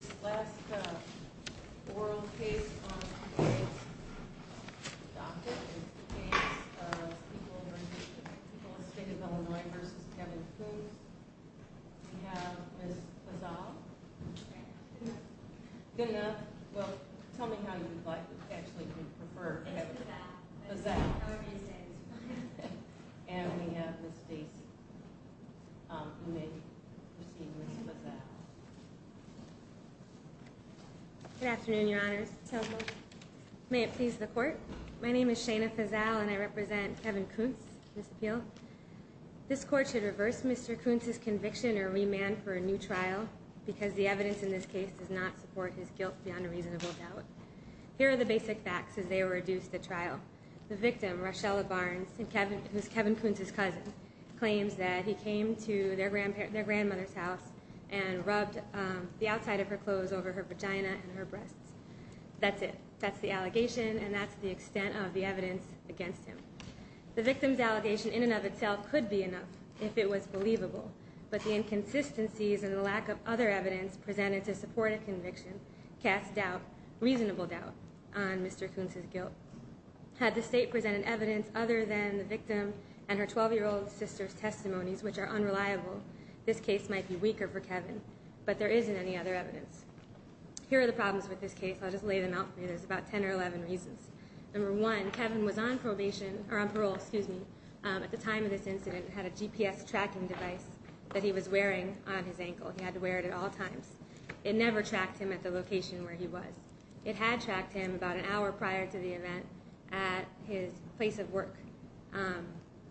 The last oral case on the docket is the case of People v. People of the State of Illinois v. Kevin Koontz. We have Ms. Fazal. Good enough? Well, tell me how you would like, actually, you would prefer. It's Fazal. And we have Ms. Stacy. You may proceed, Ms. Fazal. Good afternoon, Your Honors. May it please the Court? My name is Shana Fazal and I represent Kevin Koontz, Ms. Peel. This Court should reverse Mr. Koontz's conviction or remand for a new trial because the evidence in this case does not support his guilt beyond a reasonable doubt. Here are the basic facts as they were reduced at trial. The victim, Rochella Barnes, who is Kevin Koontz's cousin, claims that he came to their grandmother's house and rubbed the outside of her clothes over her vagina and her breasts. That's it. That's the allegation and that's the extent of the evidence against him. The victim's allegation in and of itself could be enough if it was believable, but the inconsistencies and the lack of other evidence presented to support a conviction cast doubt, reasonable doubt, on Mr. Koontz's guilt. Had the State presented evidence other than the victim and her 12-year-old sister's testimonies, which are unreliable, this case might be weaker for Kevin, but there isn't any other evidence. Here are the problems with this case. I'll just lay them out for you. There's about 10 or 11 reasons. Number one, Kevin was on parole at the time of this incident and had a GPS tracking device that he was wearing on his ankle. He had to wear it at all times. It never tracked him at the location where he was. It had tracked him about an hour prior to the event at his place of work.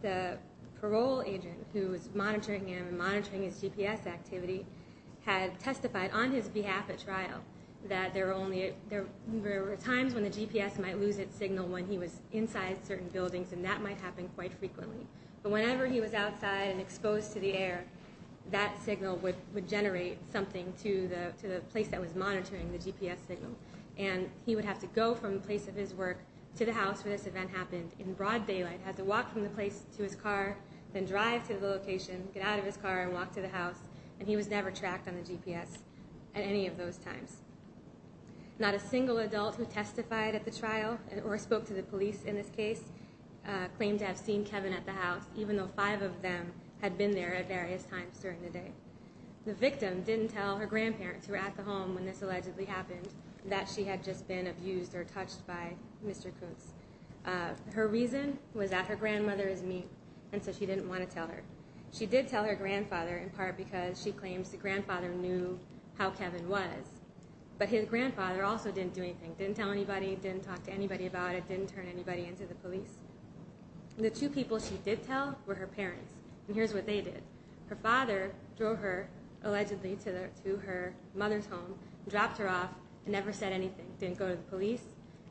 The parole agent who was monitoring him and monitoring his GPS activity had testified on his behalf at trial that there were times when the GPS might lose its signal when he was inside certain buildings and that might happen quite frequently. But whenever he was outside and exposed to the air, that signal would generate something to the place that was monitoring the GPS signal. And he would have to go from the place of his work to the house where this event happened in broad daylight. Had to walk from the place to his car, then drive to the location, get out of his car, and walk to the house. And he was never tracked on the GPS at any of those times. Not a single adult who testified at the trial or spoke to the police in this case claimed to have seen Kevin at the house, even though five of them had been there at various times during the day. The victim didn't tell her grandparents who were at the home when this allegedly happened that she had just been abused or touched by Mr. Kutz. Her reason was that her grandmother is mean, and so she didn't want to tell her. She did tell her grandfather in part because she claims the grandfather knew how Kevin was, but his grandfather also didn't do anything. Didn't tell anybody, didn't talk to anybody about it, didn't turn anybody into the police. The two people she did tell were her parents, and here's what they did. Her father drove her, allegedly, to her mother's home, dropped her off, and never said anything. Didn't go to the police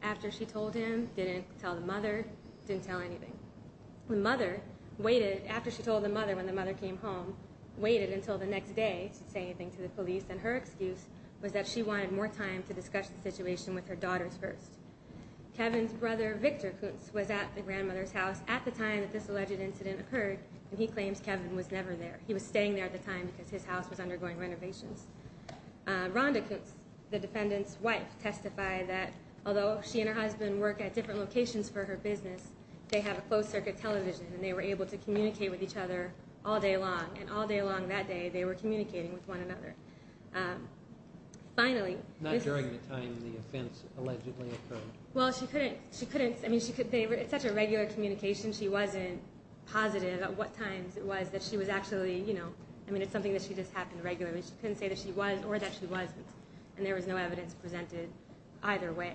after she told him, didn't tell the mother, didn't tell anything. The mother waited after she told the mother when the mother came home, waited until the next day to say anything to the police, and her excuse was that she wanted more time to discuss the situation with her daughters first. Kevin's brother, Victor Kutz, was at the grandmother's house at the time that this alleged incident occurred, and he claims Kevin was never there. He was staying there at the time because his house was undergoing renovations. Rhonda Kutz, the defendant's wife, testified that although she and her husband work at different locations for her business, they have a closed-circuit television, and they were able to communicate with each other all day long, and all day long that day they were communicating with one another. Finally... Not during the time the offense allegedly occurred. Well, she couldn't. I mean, it's such a regular communication. She wasn't positive at what times it was that she was actually, you know. I mean, it's something that just happened regularly. She couldn't say that she was or that she wasn't, and there was no evidence presented either way,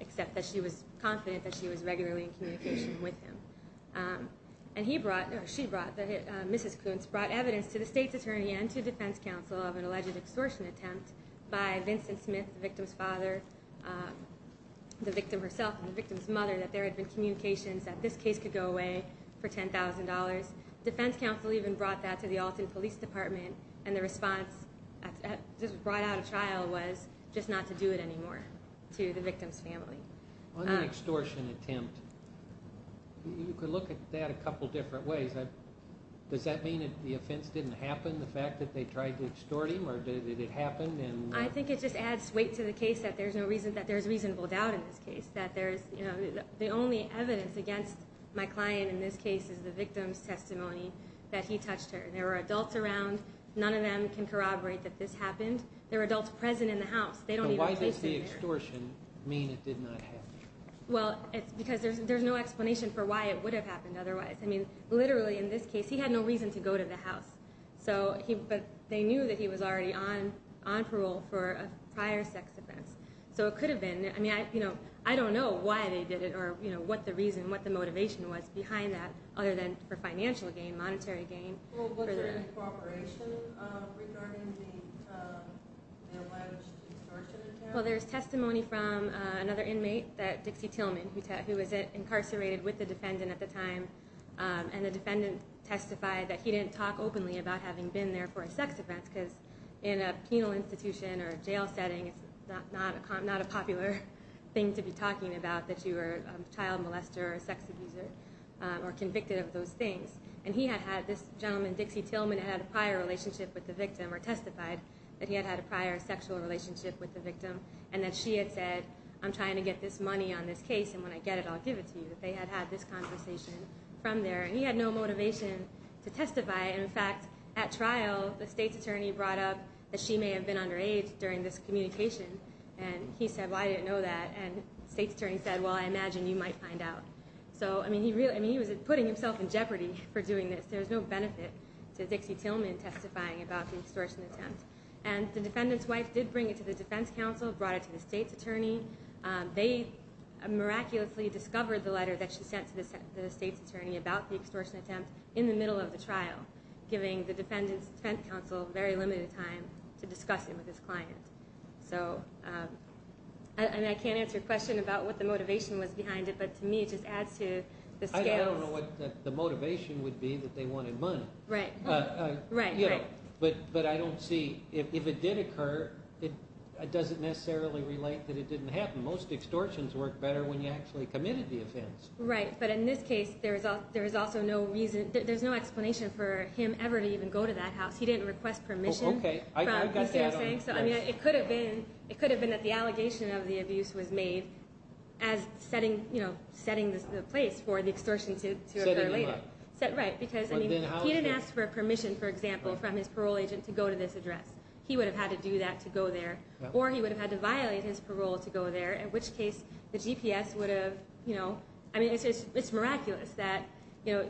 except that she was confident that she was regularly in communication with him. And he brought, or she brought, Mrs. Kutz brought evidence to the state's attorney and to defense counsel of an alleged extortion attempt by Vincent Smith, the victim's father, the victim herself, and the victim's mother that there had been communications that this case could go away for $10,000. Defense counsel even brought that to the Alton Police Department, and the response that was brought out of trial was just not to do it anymore to the victim's family. On the extortion attempt, you could look at that a couple different ways. Does that mean that the offense didn't happen, the fact that they tried to extort him, or did it happen? I think it just adds weight to the case that there's reasonable doubt in this case, that the only evidence against my client in this case is the victim's testimony that he touched her. There were adults around. None of them can corroborate that this happened. There were adults present in the house. Why does the extortion mean it did not happen? Well, it's because there's no explanation for why it would have happened otherwise. Literally, in this case, he had no reason to go to the house, but they knew that he was already on parole for a prior sex offense. So it could have been. I don't know why they did it or what the reason, what the motivation was behind that, other than for financial gain, monetary gain. Was there any corroboration regarding the alleged extortion attempt? Well, there's testimony from another inmate, Dixie Tillman, who was incarcerated with the defendant at the time, and the defendant testified that he didn't talk openly about having been there for a sex offense because in a penal institution or a jail setting, it's not a popular thing to be talking about that you were a child molester or a sex abuser or convicted of those things. And this gentleman, Dixie Tillman, had a prior relationship with the victim or testified that he had had a prior sexual relationship with the victim and that she had said, I'm trying to get this money on this case, and when I get it, I'll give it to you. They had had this conversation from there, and he had no motivation to testify. In fact, at trial, the state's attorney brought up that she may have been underage during this communication, and he said, well, I didn't know that. And the state's attorney said, well, I imagine you might find out. So, I mean, he was putting himself in jeopardy for doing this. There was no benefit to Dixie Tillman testifying about the extortion attempt. And the defendant's wife did bring it to the defense counsel, brought it to the state's attorney. They miraculously discovered the letter that she sent to the state's attorney about the extortion attempt in the middle of the trial, giving the defendant's defense counsel very limited time to discuss it with his client. And I can't answer your question about what the motivation was behind it, but to me it just adds to the scales. I don't know what the motivation would be that they wanted money. Right, right, right. But I don't see, if it did occur, it doesn't necessarily relate that it didn't happen. Most extortions work better when you actually committed the offense. Right, but in this case, there was also no reason, there's no explanation for him ever to even go to that house. He didn't request permission. Okay, I got that. You see what I'm saying? It could have been that the allegation of the abuse was made as setting the place for the extortion to occur later. Setting him up. Right, because he didn't ask for permission, for example, from his parole agent to go to this address. He would have had to do that to go there, or he would have had to violate his parole to go there, in which case the GPS would have, you know, it's miraculous that the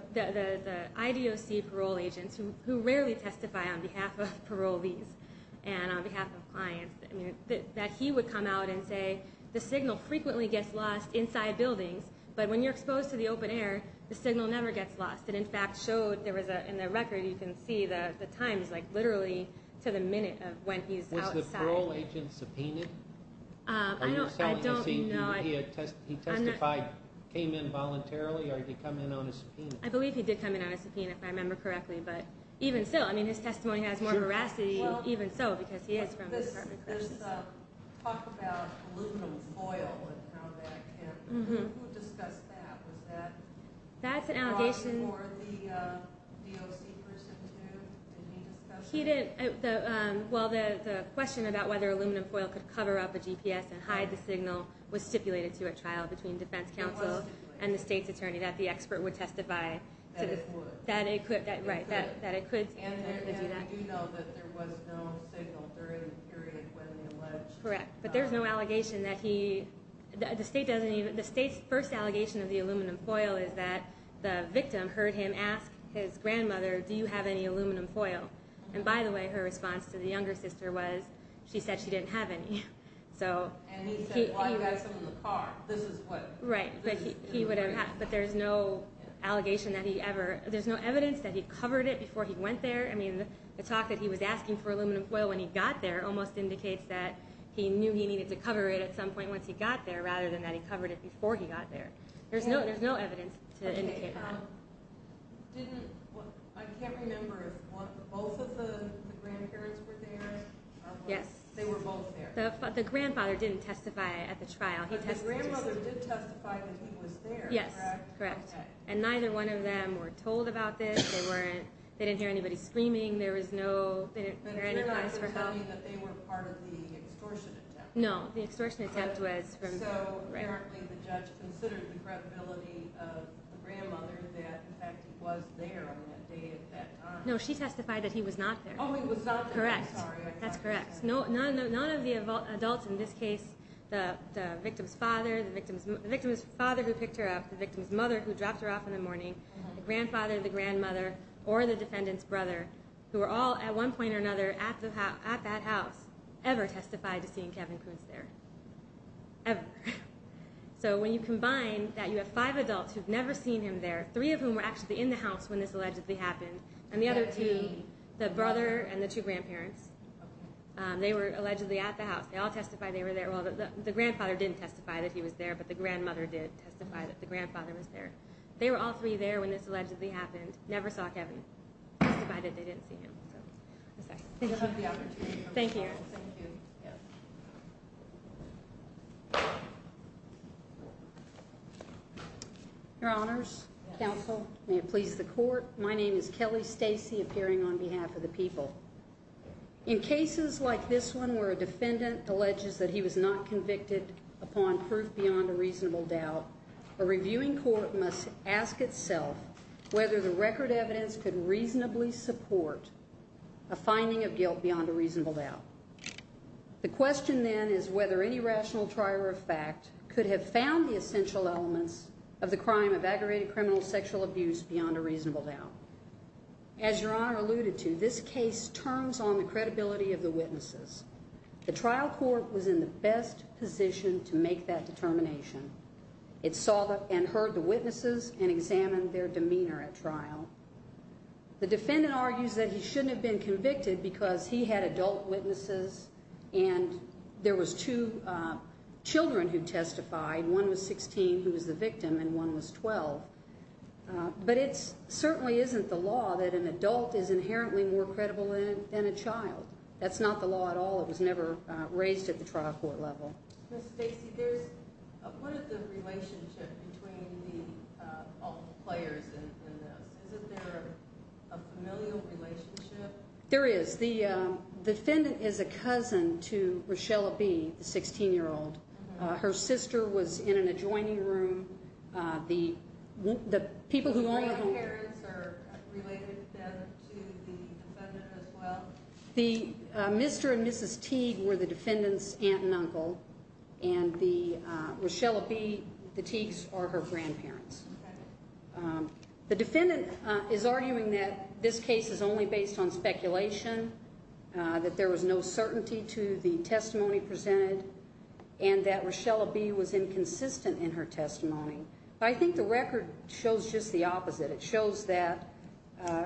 IDOC parole agents, who rarely testify on behalf of parolees and on behalf of clients, that he would come out and say the signal frequently gets lost inside buildings, but when you're exposed to the open air, the signal never gets lost. It, in fact, showed, in the record, you can see the times, like literally to the minute of when he's outside. Was the parole agent subpoenaed? I don't know. He testified, came in voluntarily, or did he come in on a subpoena? I believe he did come in on a subpoena, if I remember correctly. But even so, I mean, his testimony has more veracity, even so, because he is from the Department of Corrections. There's talk about aluminum foil and how that can, who discussed that? Was that brought before the DOC person, too? Did he discuss that? He didn't. Well, the question about whether aluminum foil could cover up a GPS and hide the signal was stipulated to a trial between defense counsel and the state's attorney that the expert would testify. That it could. That it could, right, that it could. And we do know that there was no signal during the period when he alleged. Correct, but there's no allegation that he, the state doesn't even, the state's first allegation of the aluminum foil is that the victim heard him ask his grandmother, do you have any aluminum foil? And by the way, her response to the younger sister was, she said she didn't have any. And he said, well, you got some in the car. This is what. Right, but he would have, but there's no allegation that he ever, there's no evidence that he covered it before he went there. I mean, the talk that he was asking for aluminum foil when he got there almost indicates that he knew he needed to cover it at some point once he got there rather than that he covered it before he got there. There's no evidence to indicate that. Didn't, I can't remember if both of the grandparents were there. Yes. They were both there. The grandfather didn't testify at the trial. The grandmother did testify that he was there, correct? Yes, correct. And neither one of them were told about this. They weren't, they didn't hear anybody screaming. There was no, they didn't hear any cries for help. But the grandmother was telling me that they were part of the extortion attempt. No, the extortion attempt was from. So apparently the judge considered the credibility of the grandmother that in fact he was there on that day at that time. No, she testified that he was not there. Oh, he was not there. Correct. That's correct. None of the adults in this case, the victim's father, the victim's father who picked her up, the victim's mother who dropped her off in the morning, the grandfather, the grandmother, or the defendant's brother, who were all at one point or another at that house, ever testified to seeing Kevin Kuntz there, ever. So when you combine that you have five adults who have never seen him there, three of whom were actually in the house when this allegedly happened, and the other two, the brother and the two grandparents, they were allegedly at the house. They all testified they were there. Well, the grandfather didn't testify that he was there, but the grandmother did testify that the grandfather was there. They were all three there when this allegedly happened, never saw Kevin, testified that they didn't see him. So I'm sorry. Thank you. Thank you. Your Honors, Counsel, may it please the Court, my name is Kelly Stacey, appearing on behalf of the people. In cases like this one where a defendant alleges that he was not convicted upon proof beyond a reasonable doubt, a reviewing court must ask itself whether the record evidence could reasonably support a finding of guilt beyond a reasonable doubt. The question then is whether any rational trier of fact could have found the essential elements of the crime of aggravated criminal sexual abuse beyond a reasonable doubt. As Your Honor alluded to, this case turns on the credibility of the witnesses. The trial court was in the best position to make that determination. It saw and heard the witnesses and examined their demeanor at trial. The defendant argues that he shouldn't have been convicted because he had adult witnesses and there was two children who testified, one was 16 who was the victim and one was 12. But it certainly isn't the law that an adult is inherently more credible than a child. That's not the law at all. It was never raised at the trial court level. Ms. Stacey, what is the relationship between all the players in this? Isn't there a familial relationship? There is. The defendant is a cousin to Richella B., the 16-year-old. Her sister was in an adjoining room. The grandparents are related to the defendant as well? The Mr. and Mrs. Teague were the defendant's aunt and uncle and Richella B., the Teagues, are her grandparents. The defendant is arguing that this case is only based on speculation, that there was no certainty to the testimony presented, and that Richella B. was inconsistent in her testimony. But I think the record shows just the opposite. It shows that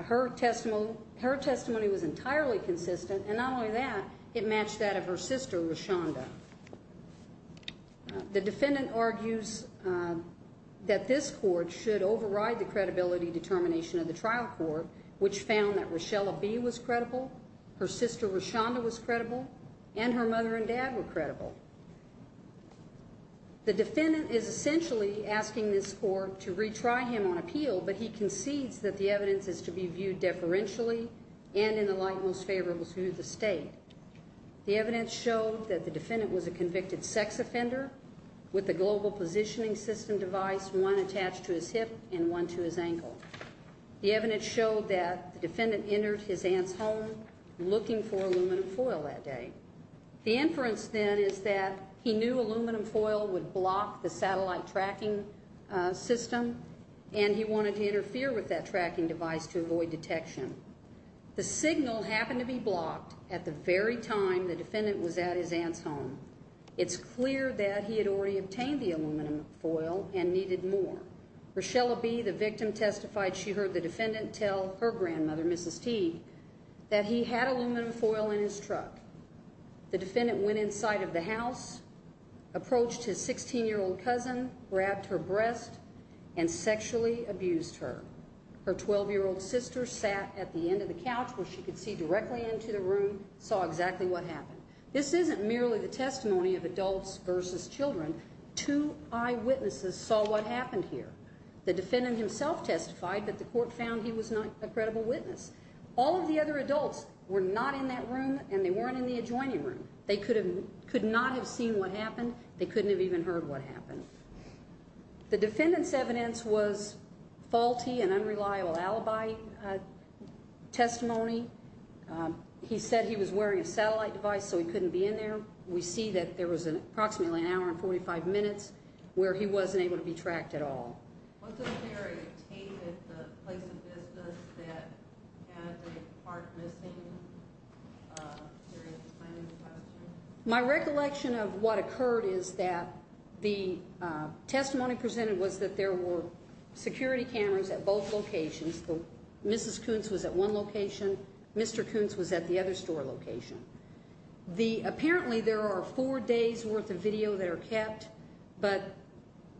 her testimony was entirely consistent, and not only that, it matched that of her sister, Richonda. The defendant argues that this court should override the credibility determination of the trial court, which found that Richella B. was credible, her sister Richonda was credible, and her mother and dad were credible. The defendant is essentially asking this court to retry him on appeal, but he concedes that the evidence is to be viewed deferentially and in the light most favorable to the state. The evidence showed that the defendant was a convicted sex offender with a global positioning system device, one attached to his hip and one to his ankle. The evidence showed that the defendant entered his aunt's home looking for aluminum foil that day. The inference then is that he knew aluminum foil would block the satellite tracking system, and he wanted to interfere with that tracking device to avoid detection. The signal happened to be blocked at the very time the defendant was at his aunt's home. It's clear that he had already obtained the aluminum foil and needed more. Richella B., the victim, testified she heard the defendant tell her grandmother, Mrs. T., that he had aluminum foil in his truck. The defendant went inside of the house, approached his 16-year-old cousin, grabbed her breast, and sexually abused her. Her 12-year-old sister sat at the end of the couch where she could see directly into the room, saw exactly what happened. This isn't merely the testimony of adults versus children. Two eyewitnesses saw what happened here. The defendant himself testified that the court found he was not a credible witness. All of the other adults were not in that room, and they weren't in the adjoining room. They could not have seen what happened. They couldn't have even heard what happened. The defendant's evidence was faulty and unreliable alibi testimony. He said he was wearing a satellite device so he couldn't be in there. We see that there was approximately an hour and 45 minutes where he wasn't able to be tracked at all. My recollection of what occurred is that the testimony presented was that there were security cameras at both locations. Mrs. Koontz was at one location. Mr. Koontz was at the other store location. Apparently there are four days' worth of video that are kept, but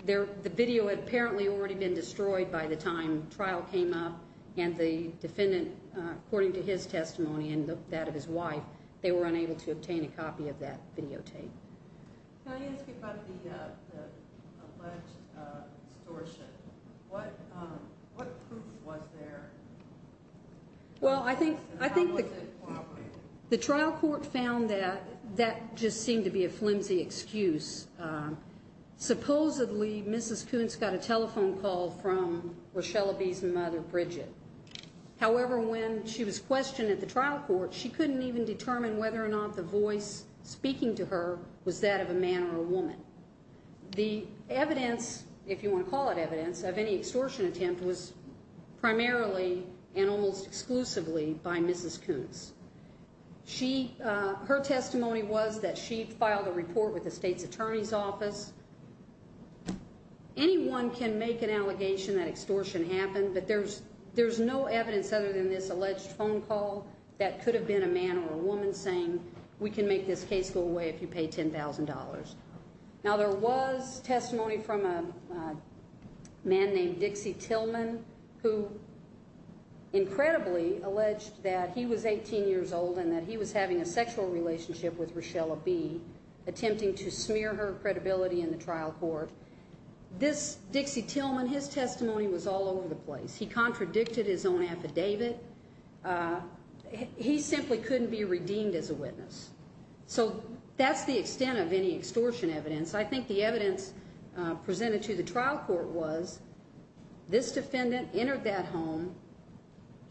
the video had apparently already been destroyed by the time trial came up, and the defendant, according to his testimony and that of his wife, they were unable to obtain a copy of that videotape. Can I ask you about the alleged extortion? What proof was there? Well, I think the trial court found that that just seemed to be a flimsy excuse. Supposedly, Mrs. Koontz got a telephone call from Rochelle Abbey's mother, Bridget. However, when she was questioned at the trial court, she couldn't even determine whether or not the voice speaking to her was that of a man or a woman. The evidence, if you want to call it evidence, of any extortion attempt was primarily and almost exclusively by Mrs. Koontz. Her testimony was that she filed a report with the state's attorney's office. Anyone can make an allegation that extortion happened, but there's no evidence other than this alleged phone call that could have been a man or a woman saying, we can make this case go away if you pay $10,000. Now, there was testimony from a man named Dixie Tillman who incredibly alleged that he was 18 years old and that he was having a sexual relationship with Rochelle Abbey, attempting to smear her credibility in the trial court. This Dixie Tillman, his testimony was all over the place. He contradicted his own affidavit. He simply couldn't be redeemed as a witness. So that's the extent of any extortion evidence. I think the evidence presented to the trial court was this defendant entered that home,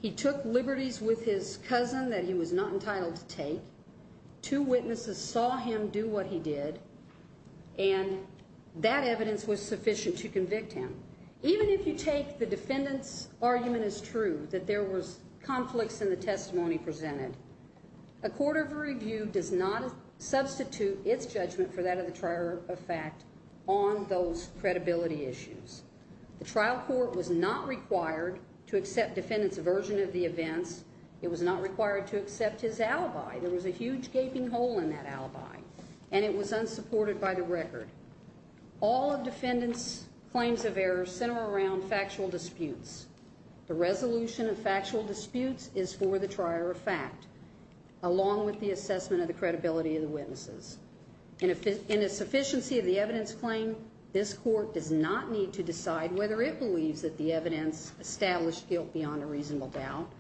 he took liberties with his cousin that he was not entitled to take, two witnesses saw him do what he did, and that evidence was sufficient to convict him. Even if you take the defendant's argument as true, that there was conflicts in the testimony presented, a court of review does not substitute its judgment for that of the trier of fact on those credibility issues. The trial court was not required to accept the defendant's version of the events. It was not required to accept his alibi. There was a huge gaping hole in that alibi, and it was unsupported by the record. All of the defendant's claims of error center around factual disputes. The resolution of factual disputes is for the trier of fact, along with the assessment of the credibility of the witnesses. In a sufficiency of the evidence claim, this court does not need to decide whether it believes that the evidence established guilt beyond a reasonable doubt.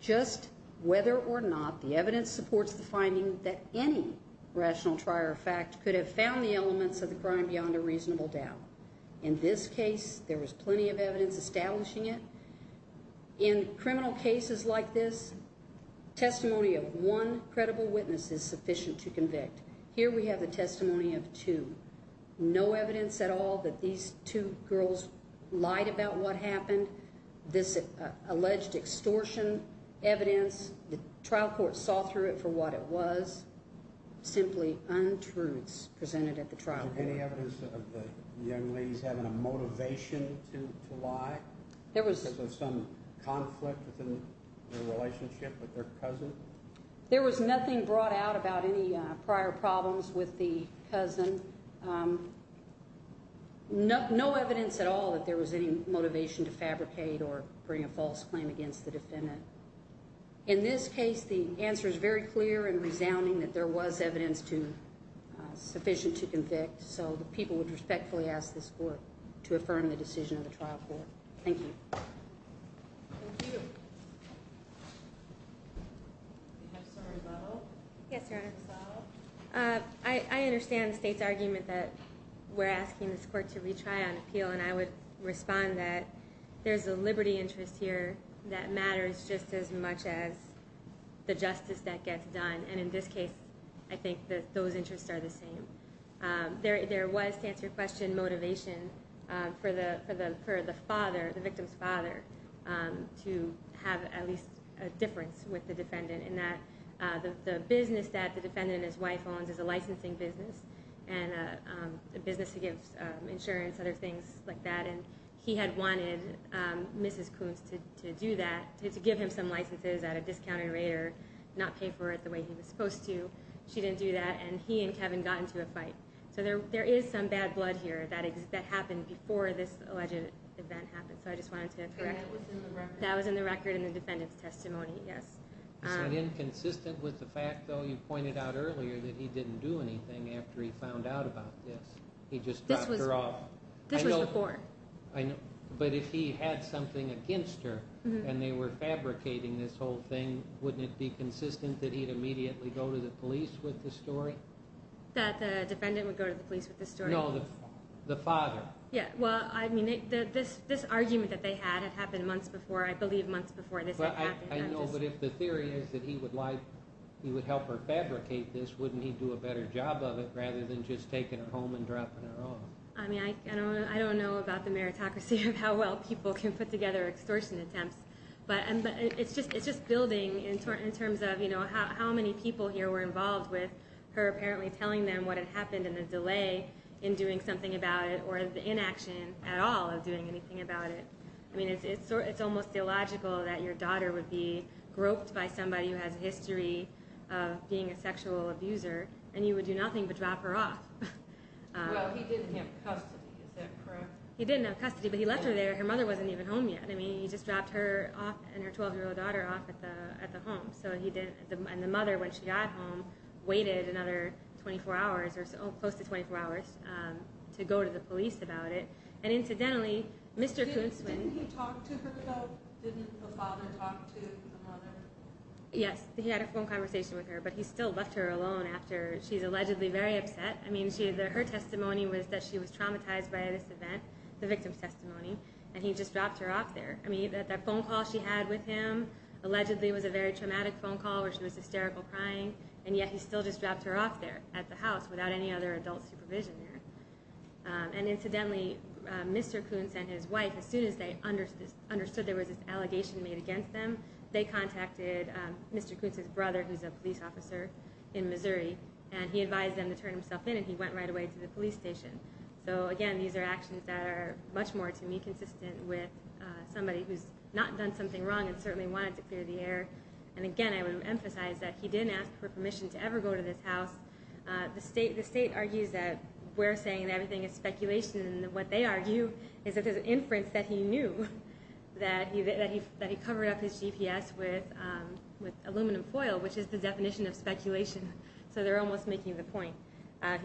Just whether or not the evidence supports the finding that any rational trier of fact could have found the elements of the crime beyond a reasonable doubt. In this case, there was plenty of evidence establishing it. In criminal cases like this, testimony of one credible witness is sufficient to convict. Here we have the testimony of two. No evidence at all that these two girls lied about what happened. This alleged extortion evidence, the trial court saw through it for what it was, simply untruths presented at the trial court. Was there any evidence of the young ladies having a motivation to lie? Was there some conflict within the relationship with their cousin? There was nothing brought out about any prior problems with the cousin. No evidence at all that there was any motivation to fabricate or bring a false claim against the defendant. In this case, the answer is very clear and resounding that there was evidence sufficient to convict, so the people would respectfully ask this court to affirm the decision of the trial court. Thank you. Thank you. Do you have a summary level? Yes, Your Honor. I understand the state's argument that we're asking this court to retry on appeal, and I would respond that there's a liberty interest here that matters just as much as the justice that gets done, and in this case, I think that those interests are the same. There was, to answer your question, motivation for the father, the victim's father, to have at least a difference with the defendant in that the business that the defendant and his wife owns is a licensing business, and a business that gives insurance, other things like that, and he had wanted Mrs. Coons to do that, to give him some licenses at a discounted rate or not pay for it the way he was supposed to. She didn't do that, and he and Kevin got into a fight. So there is some bad blood here that happened before this alleged event happened, so I just wanted to correct you. That was in the record in the defendant's testimony, yes. Is that inconsistent with the fact, though, you pointed out earlier that he didn't do anything after he found out about this? He just dropped her off. This was before. But if he had something against her and they were fabricating this whole thing, wouldn't it be consistent that he'd immediately go to the police with this story? That the defendant would go to the police with this story? No, the father. Well, I mean, this argument that they had had happened months before, I believe months before this happened. I know, but if the theory is that he would help her fabricate this, wouldn't he do a better job of it rather than just taking her home and dropping her off? I mean, I don't know about the meritocracy of how well people can put together extortion attempts, but it's just building in terms of how many people here were involved with her apparently telling them what had happened and the delay in doing something about it or the inaction at all of doing anything about it. I mean, it's almost illogical that your daughter would be groped by somebody who has a history of being a sexual abuser and you would do nothing but drop her off. Well, he didn't have custody, is that correct? He didn't have custody, but he left her there. Her mother wasn't even home yet. I mean, he just dropped her and her 12-year-old daughter off at the home. And the mother, when she got home, waited another 24 hours or close to 24 hours to go to the police about it. And incidentally, Mr. Koontzman... Didn't he talk to her though? Didn't the father talk to the mother? Yes, he had a phone conversation with her, but he still left her alone after she's allegedly very upset. I mean, her testimony was that she was traumatized by this event, the victim's testimony, and he just dropped her off there. I mean, that phone call she had with him allegedly was a very traumatic phone call where she was hysterical crying, and yet he still just dropped her off there at the house without any other adult supervision there. And incidentally, Mr. Koontz and his wife, as soon as they understood there was this allegation made against them, they contacted Mr. Koontz's brother, who's a police officer in Missouri, and he advised them to turn himself in, and he went right away to the police station. So again, these are actions that are much more, to me, consistent with somebody who's not done something wrong and certainly wanted to clear the air. And again, I would emphasize that he didn't ask for permission to ever go to this house. The state argues that we're saying everything is speculation, and what they argue is that there's an inference that he knew that he covered up his GPS with aluminum foil, which is the definition of speculation. So they're almost making the point.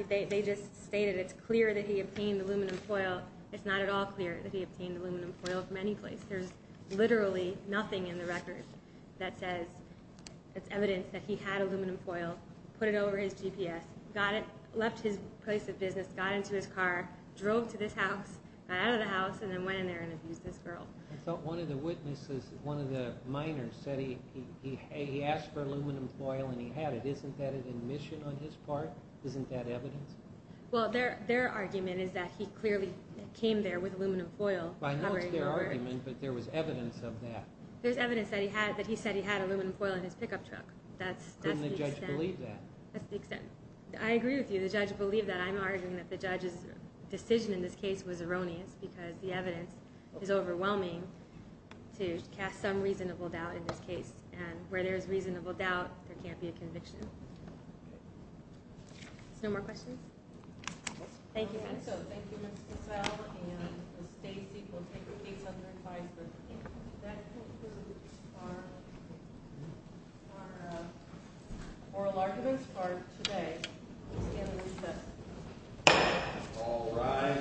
They just stated it's clear that he obtained aluminum foil. It's not at all clear that he obtained aluminum foil from any place. There's literally nothing in the record that says it's evidence that he had aluminum foil, put it over his GPS, left his place of business, got into his car, drove to this house, got out of the house, and then went in there and abused this girl. I thought one of the witnesses, one of the minors said he asked for aluminum foil and he had it. Isn't that an admission on his part? Isn't that evidence? Well, their argument is that he clearly came there with aluminum foil. I know it's their argument, but there was evidence of that. There's evidence that he said he had aluminum foil in his pickup truck. Couldn't the judge believe that? That's the extent. I agree with you. The judge believed that. I'm arguing that the judge's decision in this case was erroneous because the evidence is overwhelming to cast some reasonable doubt in this case. And where there's reasonable doubt, there can't be a conviction. No more questions? Thank you. Thank you, Ms. Cassell. And Stacy will take a piece of your advice. But that concludes our oral arguments for today. Please stand and be seated. All rise.